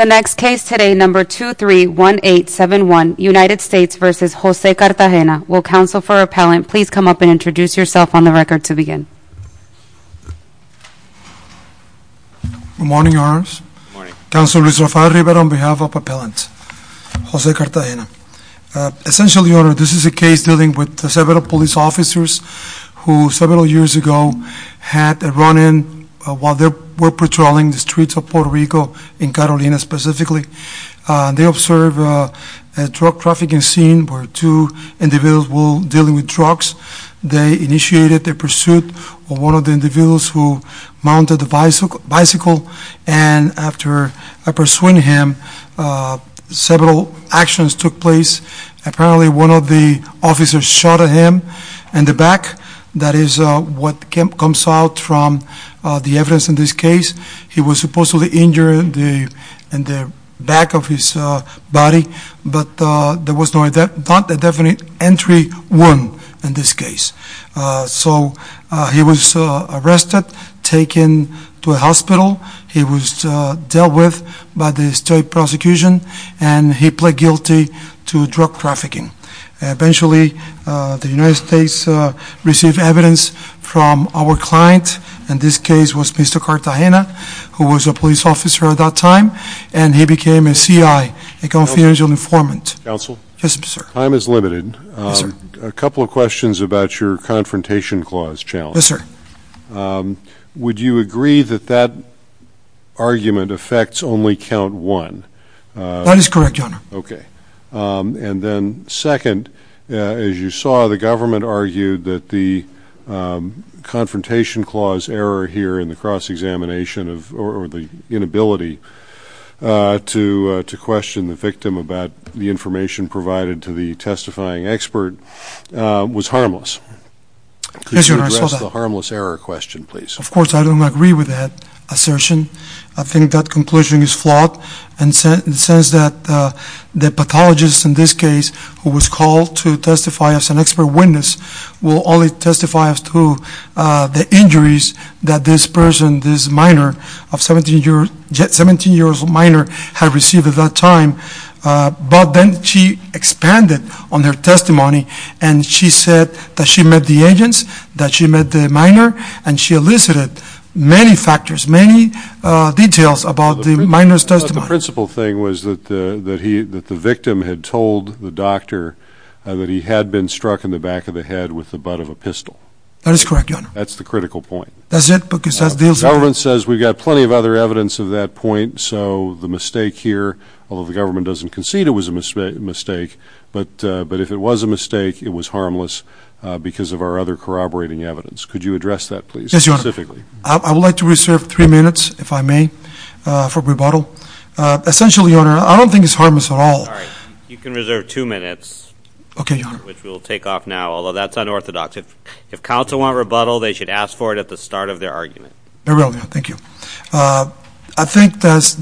The next case today, number 231871, United States v. Jose Cartagena. Will counsel for appellant please come up and introduce yourself on the record to begin. Good morning, your honors. Good morning. Counselor Luis Rafael Rivera on behalf of appellant Jose Cartagena. Essentially your honor, this is a case dealing with several police officers who several years ago had a run in while they were patrolling the streets of Puerto Rico, in Catalina specifically. They observed a drug trafficking scene where two individuals were dealing with drugs. They initiated their pursuit of one of the individuals who mounted the bicycle and after pursuing him, several actions took place. Apparently, one of the officers shot at him in the back. That is what comes out from the evidence in this case. He was supposedly injured in the back of his body, but there was not a definite entry wound in this case. So he was arrested, taken to a hospital. He was dealt with by the state prosecution and he pled guilty to drug trafficking. Eventually, the United States received evidence from our client, in this case was Mr. Cartagena, who was a police officer at that time, and he became a CI, a confidential informant. Yes, sir. Time is limited. Yes, sir. A couple of questions about your confrontation clause challenge. Yes, sir. First, would you agree that that argument affects only count one? That is correct, Your Honor. Okay. And then second, as you saw, the government argued that the confrontation clause error here in the cross-examination or the inability to question the victim about the information provided to the testifying expert was harmless. Yes, Your Honor. I saw that. That is a harmless error question, please. Of course, I don't agree with that assertion. I think that conclusion is flawed in the sense that the pathologist in this case, who was called to testify as an expert witness, will only testify to the injuries that this person, this minor, a 17-year-old minor, had received at that time. But then she expanded on her testimony and she said that she met the agents, that she met the minor, and she elicited many factors, many details about the minor's testimony. But the principal thing was that the victim had told the doctor that he had been struck in the back of the head with the butt of a pistol. That is correct, Your Honor. That's the critical point. That's it? Because that deals with... The government says we've got plenty of other evidence of that point, so the mistake here, although the government doesn't concede it was a mistake, but if it was a mistake, it was harmless because of our other corroborating evidence. Could you address that, please? Specifically. I would like to reserve three minutes, if I may, for rebuttal. Essentially, Your Honor, I don't think it's harmless at all. You can reserve two minutes, which we'll take off now, although that's unorthodox. If counsel want rebuttal, they should ask for it at the start of their argument. Very well, Your Honor. Thank you. I think that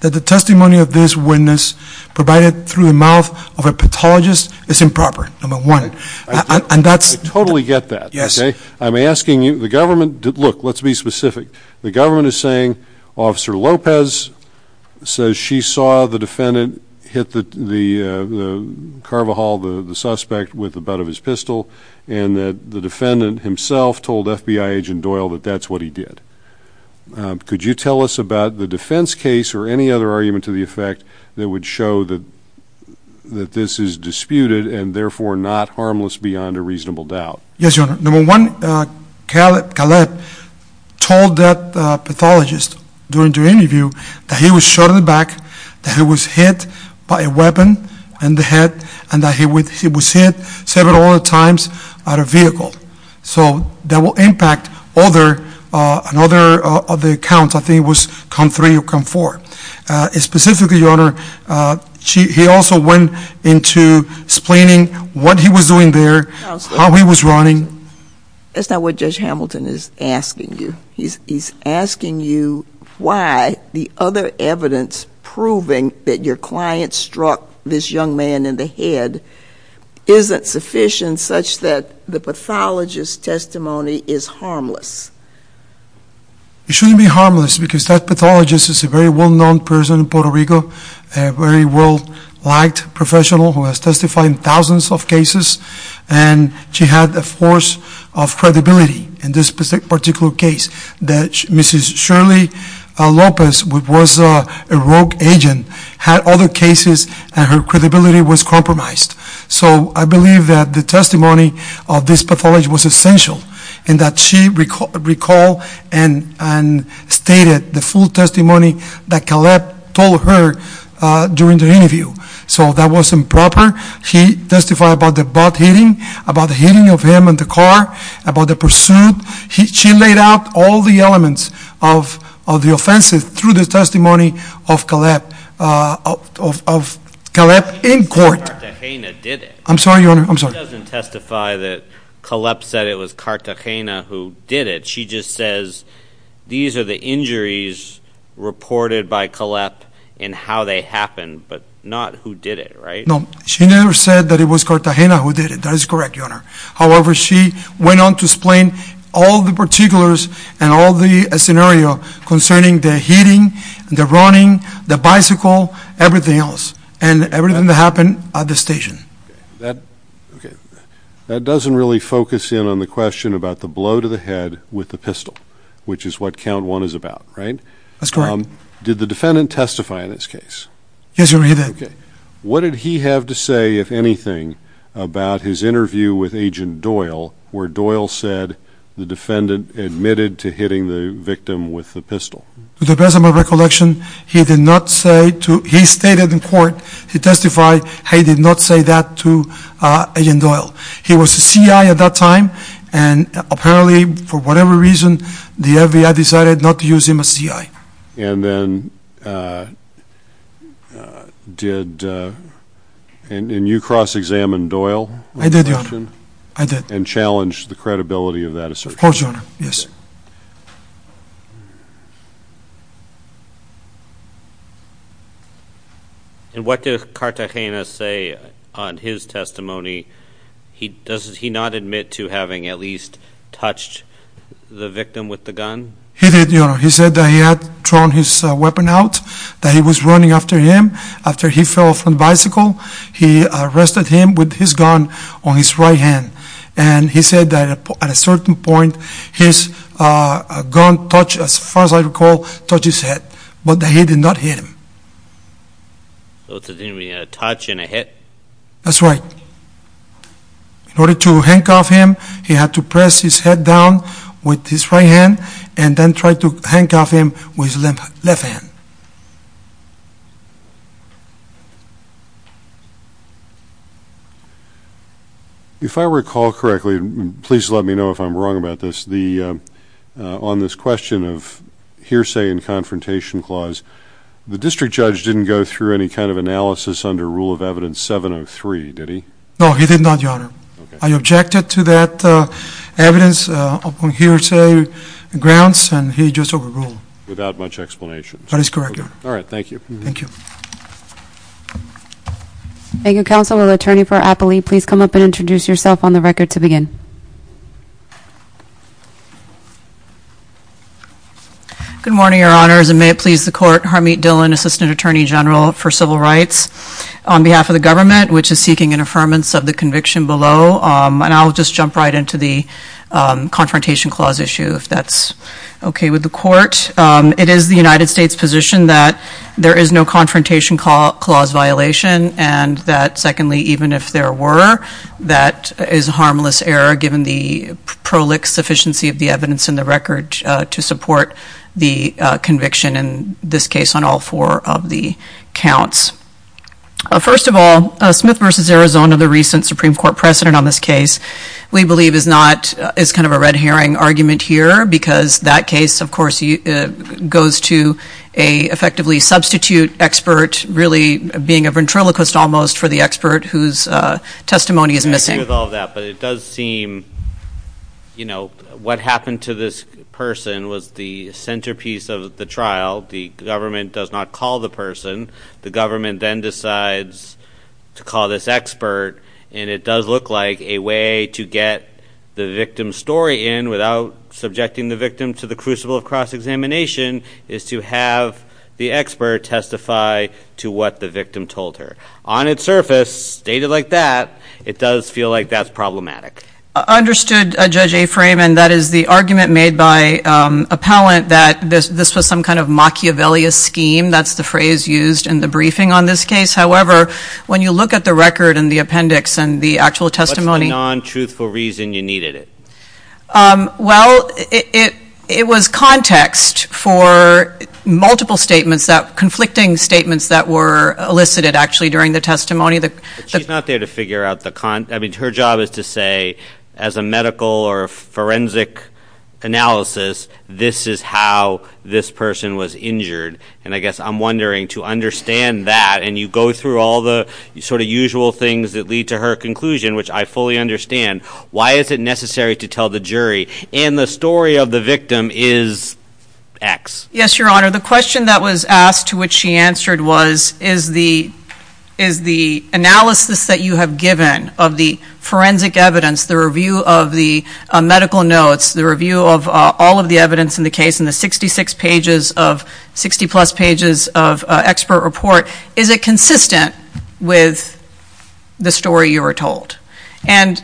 the testimony of this witness provided through the mouth of a pathologist is improper, number one. And that's... I totally get that, okay? Yes. I'm asking you... The government... Look, let's be specific. The government is saying Officer Lopez says she saw the defendant hit the Carvajal, the suspect, with the butt of his pistol, and that the defendant himself told FBI agent Doyle that that's what he did. Could you tell us about the defense case or any other argument to the effect that would show that this is disputed and therefore not harmless beyond a reasonable doubt? Yes, Your Honor. Number one, Caleb told that pathologist during the interview that he was shot in the back, that he was hit by a weapon in the head, and that he was hit several other times by a vehicle. So that will impact other counts. I think it was count three or count four. Specifically, Your Honor, he also went into explaining what he was doing there, how he was running. That's not what Judge Hamilton is asking you. He's asking you why the other evidence proving that your client struck this young man in the head isn't sufficient such that the pathologist's testimony is harmless. It shouldn't be harmless because that pathologist is a very well-known person in Puerto Rico, a very well-liked professional who has testified in thousands of cases, and she had a force of credibility in this particular case that Mrs. Shirley Lopez, who was a rogue agent, had other cases and her credibility was compromised. So I believe that the testimony of this pathologist was essential and that she recalled and stated the full testimony that Caleb told her during the interview. So that wasn't proper. He testified about the butt hitting, about the hitting of him in the car, about the pursuit. She laid out all the elements of the offense through the testimony of Caleb in court. But Cartagena did it. I'm sorry, Your Honor. I'm sorry. She doesn't testify that Caleb said it was Cartagena who did it. She just says these are the injuries reported by Caleb and how they happened, but not who did it, right? No. She never said that it was Cartagena who did it. That is correct, Your Honor. However, she went on to explain all the particulars and all the scenario concerning the hitting, the running, the bicycle, everything else, and everything that happened at the station. That doesn't really focus in on the question about the blow to the head with the pistol, which is what count one is about, right? That's correct. Did the defendant testify in this case? Yes, Your Honor, he did. What did he have to say, if anything, about his interview with Agent Doyle where Doyle said the defendant admitted to hitting the victim with the pistol? To the best of my recollection, he did not say, he stated in court, he testified he did not say that to Agent Doyle. He was a C.I. at that time, and apparently, for whatever reason, the FBI decided not to use him as C.I. And then did, and you cross-examined Doyle? I did, Your Honor, I did. And challenged the credibility of that assertion? Of course, Your Honor, yes. And what did Cartagena say on his testimony? Does he not admit to having at least touched the victim with the gun? He did, Your Honor. He said that he had thrown his weapon out, that he was running after him. After he fell from the bicycle, he arrested him with his gun on his right hand. And he said that at a certain point, his gun touched, as far as I recall, touched his head. But he did not hit him. So it's a touch and a hit? That's right. In order to handcuff him, he had to press his head down with his right hand and then try to handcuff him with his left hand. If I recall correctly, and please let me know if I'm wrong about this, on this question of hearsay and confrontation clause, the district judge didn't go through any kind of analysis under rule of evidence 703, did he? No, he did not, Your Honor. I objected to that evidence on hearsay grounds, and he just overruled. Without much explanation. That is correct, Your Honor. All right. Thank you. Thank you. Thank you, counsel. Will the attorney for Appley please come up and introduce yourself on the record to begin? Good morning, Your Honors. And may it please the court, Harmeet Dhillon, Assistant Attorney General for Civil Rights. On behalf of the government, which is seeking an affirmance of the conviction below, and I'll just jump right into the confrontation clause issue, if that's okay with the court. It is the United States' position that there is no confrontation clause violation, and that secondly, even if there were, that is a harmless error given the prolix sufficiency of the evidence in the record to support the conviction in this case on all four of the First of all, Smith v. Arizona, the recent Supreme Court precedent on this case, we believe is not, is kind of a red herring argument here, because that case, of course, goes to a effectively substitute expert, really being a ventriloquist almost for the expert whose testimony is missing. I agree with all that, but it does seem, you know, what happened to this person was the centerpiece of the trial. The government does not call the person. The government then decides to call this expert, and it does look like a way to get the victim's story in without subjecting the victim to the crucible of cross-examination is to have the expert testify to what the victim told her. On its surface, stated like that, it does feel like that's problematic. Understood Judge A. Freeman. That is the argument made by appellant that this was some kind of Machiavellian scheme. That's the phrase used in the briefing on this case. However, when you look at the record and the appendix and the actual testimony. What's the non-truthful reason you needed it? Well, it was context for multiple statements that, conflicting statements that were elicited actually during the testimony. She's not there to figure out the, I mean, her job is to say, as a medical or forensic analysis, this is how this person was injured. And I guess I'm wondering, to understand that, and you go through all the sort of usual things that lead to her conclusion, which I fully understand. Why is it necessary to tell the jury, and the story of the victim is X. Yes, your honor. The question that was asked to which she answered was, is the analysis that you have given of the forensic evidence, the review of the medical notes, the review of all of the evidence in the case, and the 66 pages of, 60 plus pages of expert report, is it consistent with the story you were told? And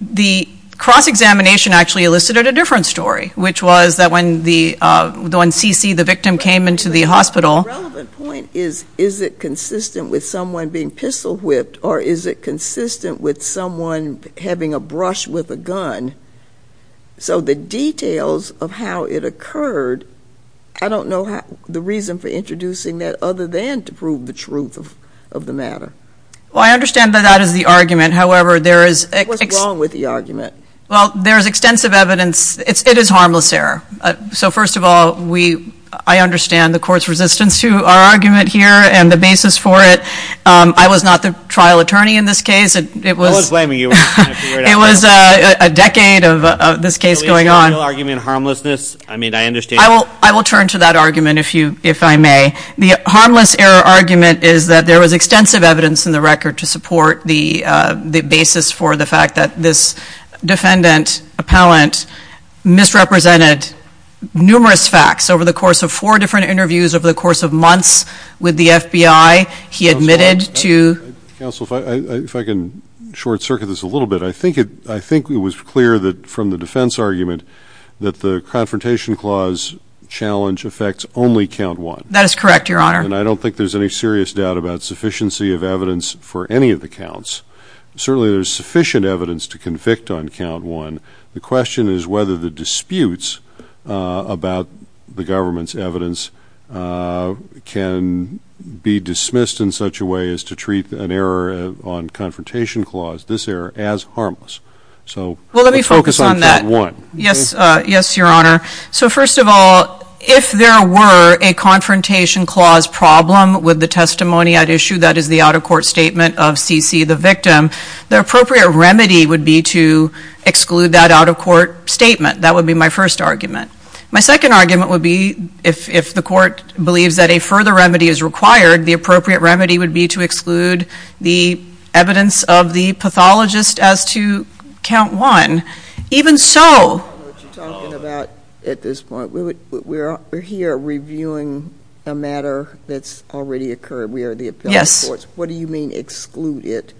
the cross-examination actually elicited a different story, which was that when CC, the victim, came into the hospital. The relevant point is, is it consistent with someone being pistol whipped, or is it consistent with someone having a brush with a gun? So the details of how it occurred, I don't know the reason for introducing that, other than to prove the truth of the matter. Well, I understand that that is the argument. However, there is... What's wrong with the argument? Well, there is extensive evidence. It is harmless error. So first of all, I understand the court's resistance to our argument here, and the basis for it. I was not the trial attorney in this case. It was... So is your real argument harmlessness? I mean, I understand... I will turn to that argument if I may. The harmless error argument is that there was extensive evidence in the record to support the basis for the fact that this defendant, appellant, misrepresented numerous facts over the course of four different interviews, over the course of months with the FBI. He admitted to... Counsel, if I can short-circuit this a little bit. I think it was clear from the defense argument that the Confrontation Clause challenge affects only count one. That is correct, Your Honor. And I don't think there's any serious doubt about sufficiency of evidence for any of the Certainly, there's sufficient evidence to convict on count one. The question is whether the disputes about the government's evidence can be dismissed in such a way as to treat an error on Confrontation Clause, this error, as harmless. So let's focus on count one. Yes. Yes, Your Honor. So first of all, if there were a Confrontation Clause problem with the testimony at issue, that is the out-of-court statement of C.C., the victim, the appropriate remedy would be to exclude that out-of-court statement. That would be my first argument. My second argument would be, if the court believes that a further remedy is required, the appropriate remedy would be to exclude the evidence of the pathologist as to count one. Even so... What you're talking about at this point, we're here reviewing a matter that's already occurred. We are the appellate courts. Yes. What do you mean, exclude it?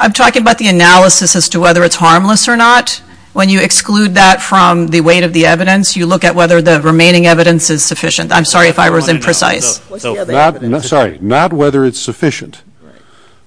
I'm talking about the analysis as to whether it's harmless or not. When you exclude that from the weight of the evidence, you look at whether the remaining evidence is sufficient. I'm sorry if I was imprecise. What's the other evidence? Sorry. Not whether it's sufficient. Right.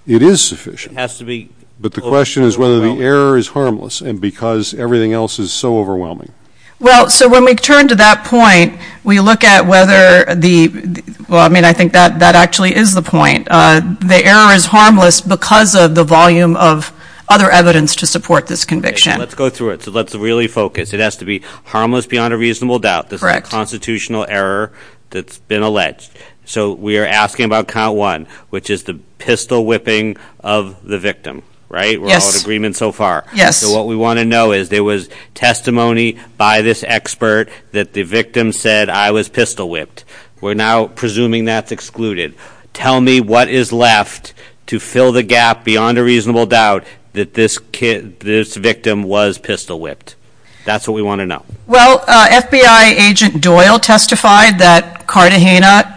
It is sufficient. It has to be. But the question is whether the error is harmless and because everything else is so overwhelming. Well, so when we turn to that point, we look at whether the, well, I mean, I think that actually is the point. The error is harmless because of the volume of other evidence to support this conviction. Let's go through it. So let's really focus. It has to be harmless beyond a reasonable doubt. Correct. It has to be a constitutional error that's been alleged. So we are asking about count one, which is the pistol whipping of the victim. Right? Yes. We're all in agreement so far. Yes. So what we want to know is there was testimony by this expert that the victim said, I was pistol whipped. We're now presuming that's excluded. Tell me what is left to fill the gap beyond a reasonable doubt that this victim was pistol whipped. That's what we want to know. Well, FBI agent Doyle testified that Cartagena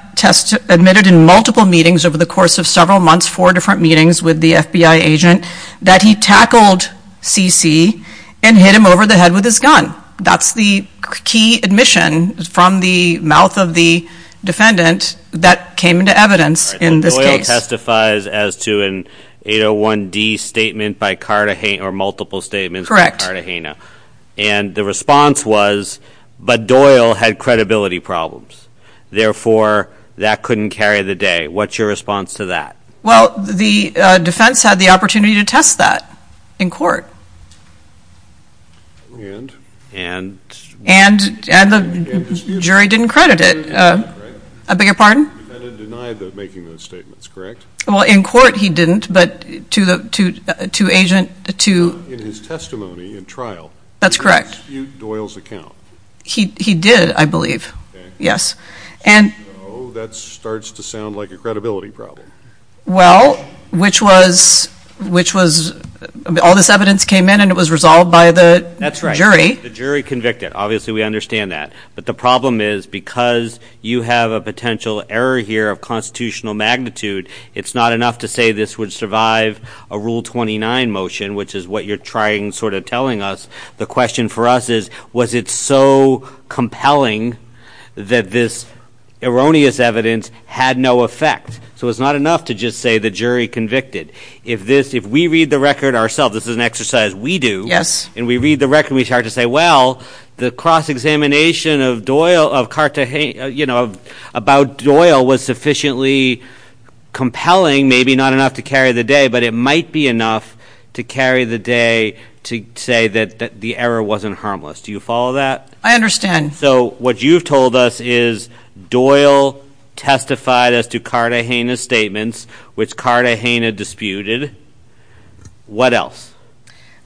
admitted in multiple meetings over the course of several months, four different meetings with the FBI agent, that he tackled CC and hit him over the head with his gun. That's the key admission from the mouth of the defendant that came into evidence in this case. Doyle testifies as to an 801D statement by Cartagena or multiple statements by Cartagena. And the response was, but Doyle had credibility problems, therefore that couldn't carry the day. What's your response to that? Well, the defense had the opportunity to test that in court and the jury didn't credit it. I beg your pardon? The defendant denied making those statements, correct? Well, in court he didn't, but to the, to, to agent, to in his testimony in trial. That's correct. He didn't dispute Doyle's account. He, he did, I believe. Yes. So, that starts to sound like a credibility problem. Well, which was, which was, all this evidence came in and it was resolved by the jury. That's right. The jury convicted. Obviously we understand that. But the problem is, because you have a potential error here of constitutional magnitude, it's not enough to say this would survive a Rule 29 motion, which is what you're trying, sort of telling us. The question for us is, was it so compelling that this erroneous evidence had no effect? So, it's not enough to just say the jury convicted. If this, if we read the record ourselves, this is an exercise we do. Yes. And we read the record, we start to say, well, the cross-examination of Doyle, of Cartagena, you know, about Doyle was sufficiently compelling, maybe not enough to carry the day, but it might be enough to carry the day to say that the error wasn't harmless. Do you follow that? I understand. So, what you've told us is Doyle testified as to Cartagena's statements, which Cartagena disputed. What else?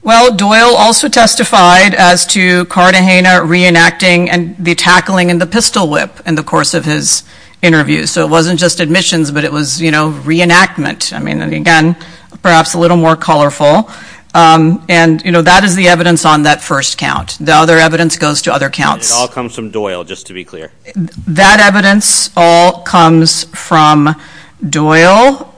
Well, Doyle also testified as to Cartagena reenacting the tackling and the pistol whip in the course of his interview. So, it wasn't just admissions, but it was, you know, reenactment. I mean, again, perhaps a little more colorful. And, you know, that is the evidence on that first count. The other evidence goes to other counts. It all comes from Doyle, just to be clear. That evidence all comes from Doyle.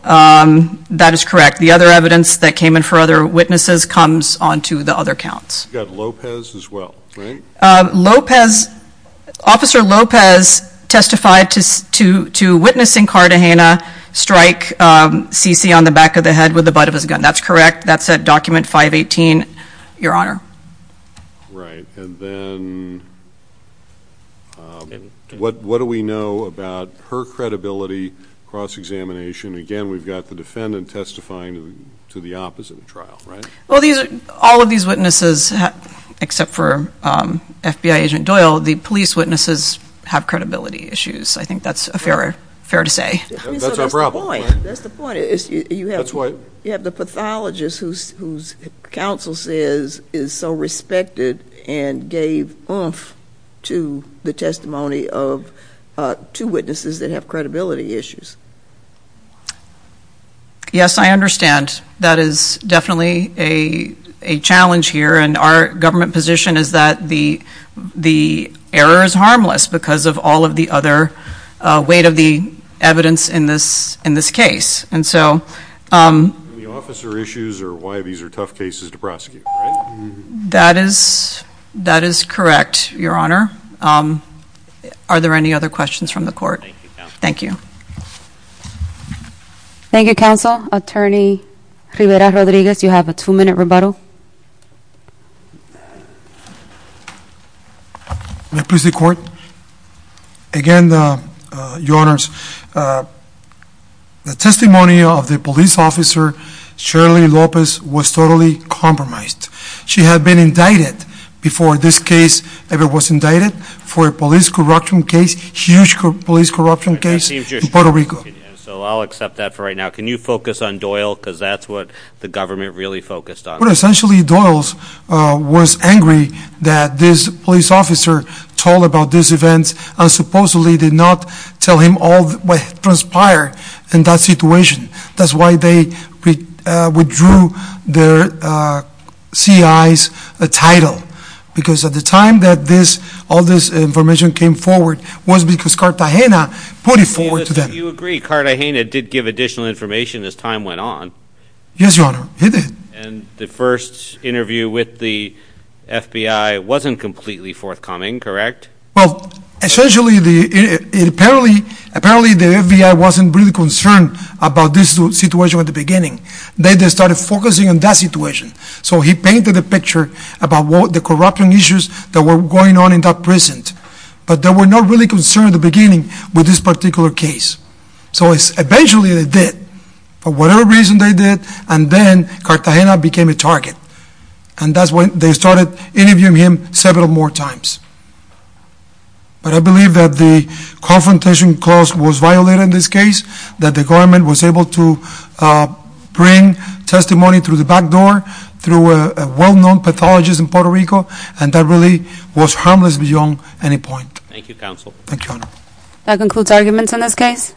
That is correct. The other evidence that came in for other witnesses comes on to the other counts. You've got Lopez as well, right? Lopez, Officer Lopez testified to witnessing Cartagena strike Cece on the back of the head with the butt of his gun. That's correct. That's at document 518, Your Honor. Right. And then, what do we know about her credibility cross-examination? Again, we've got the defendant testifying to the opposite trial, right? Well, all of these witnesses, except for FBI agent Doyle, the police witnesses have credibility issues. I think that's fair to say. That's our problem. That's the point. You have the pathologist whose counsel says is so respected and gave oomph to the testimony of two witnesses that have credibility issues. Yes, I understand. That is definitely a challenge here, and our government position is that the error is harmless because of all of the other weight of the evidence in this case. Any officer issues or why these are tough cases to prosecute, right? That is correct, Your Honor. Are there any other questions from the court? Thank you, counsel. Thank you, counsel. Attorney Rivera-Rodriguez, you have a two-minute rebuttal. May it please the Court? Again, Your Honors, the testimony of the police officer, Shirley Lopez, was totally compromised. She had been indicted before this case ever was indicted for a police corruption case, a huge police corruption case in Puerto Rico. I'll accept that for right now. Can you focus on Doyle because that's what the government really focused on? Essentially, Doyle was angry that this police officer told about this event and supposedly did not tell him all that transpired in that situation. That's why they withdrew their C.I.'s title because at the time that all this information came forward was because Cartagena put it forward to them. Do you agree Cartagena did give additional information as time went on? Yes, Your Honor, he did. And the first interview with the FBI wasn't completely forthcoming, correct? Well, essentially, apparently the FBI wasn't really concerned about this situation at the beginning. They just started focusing on that situation. So he painted a picture about the corruption issues that were going on in that prison. But they were not really concerned at the beginning with this particular case. So eventually they did. For whatever reason they did, and then Cartagena became a target. And that's when they started interviewing him several more times. But I believe that the confrontation clause was violated in this case, that the government was able to bring testimony through the back door through a well-known pathologist in Puerto Rico, and that really was harmless beyond any point. Thank you, Counsel. Thank you, Your Honor. That concludes arguments in this case.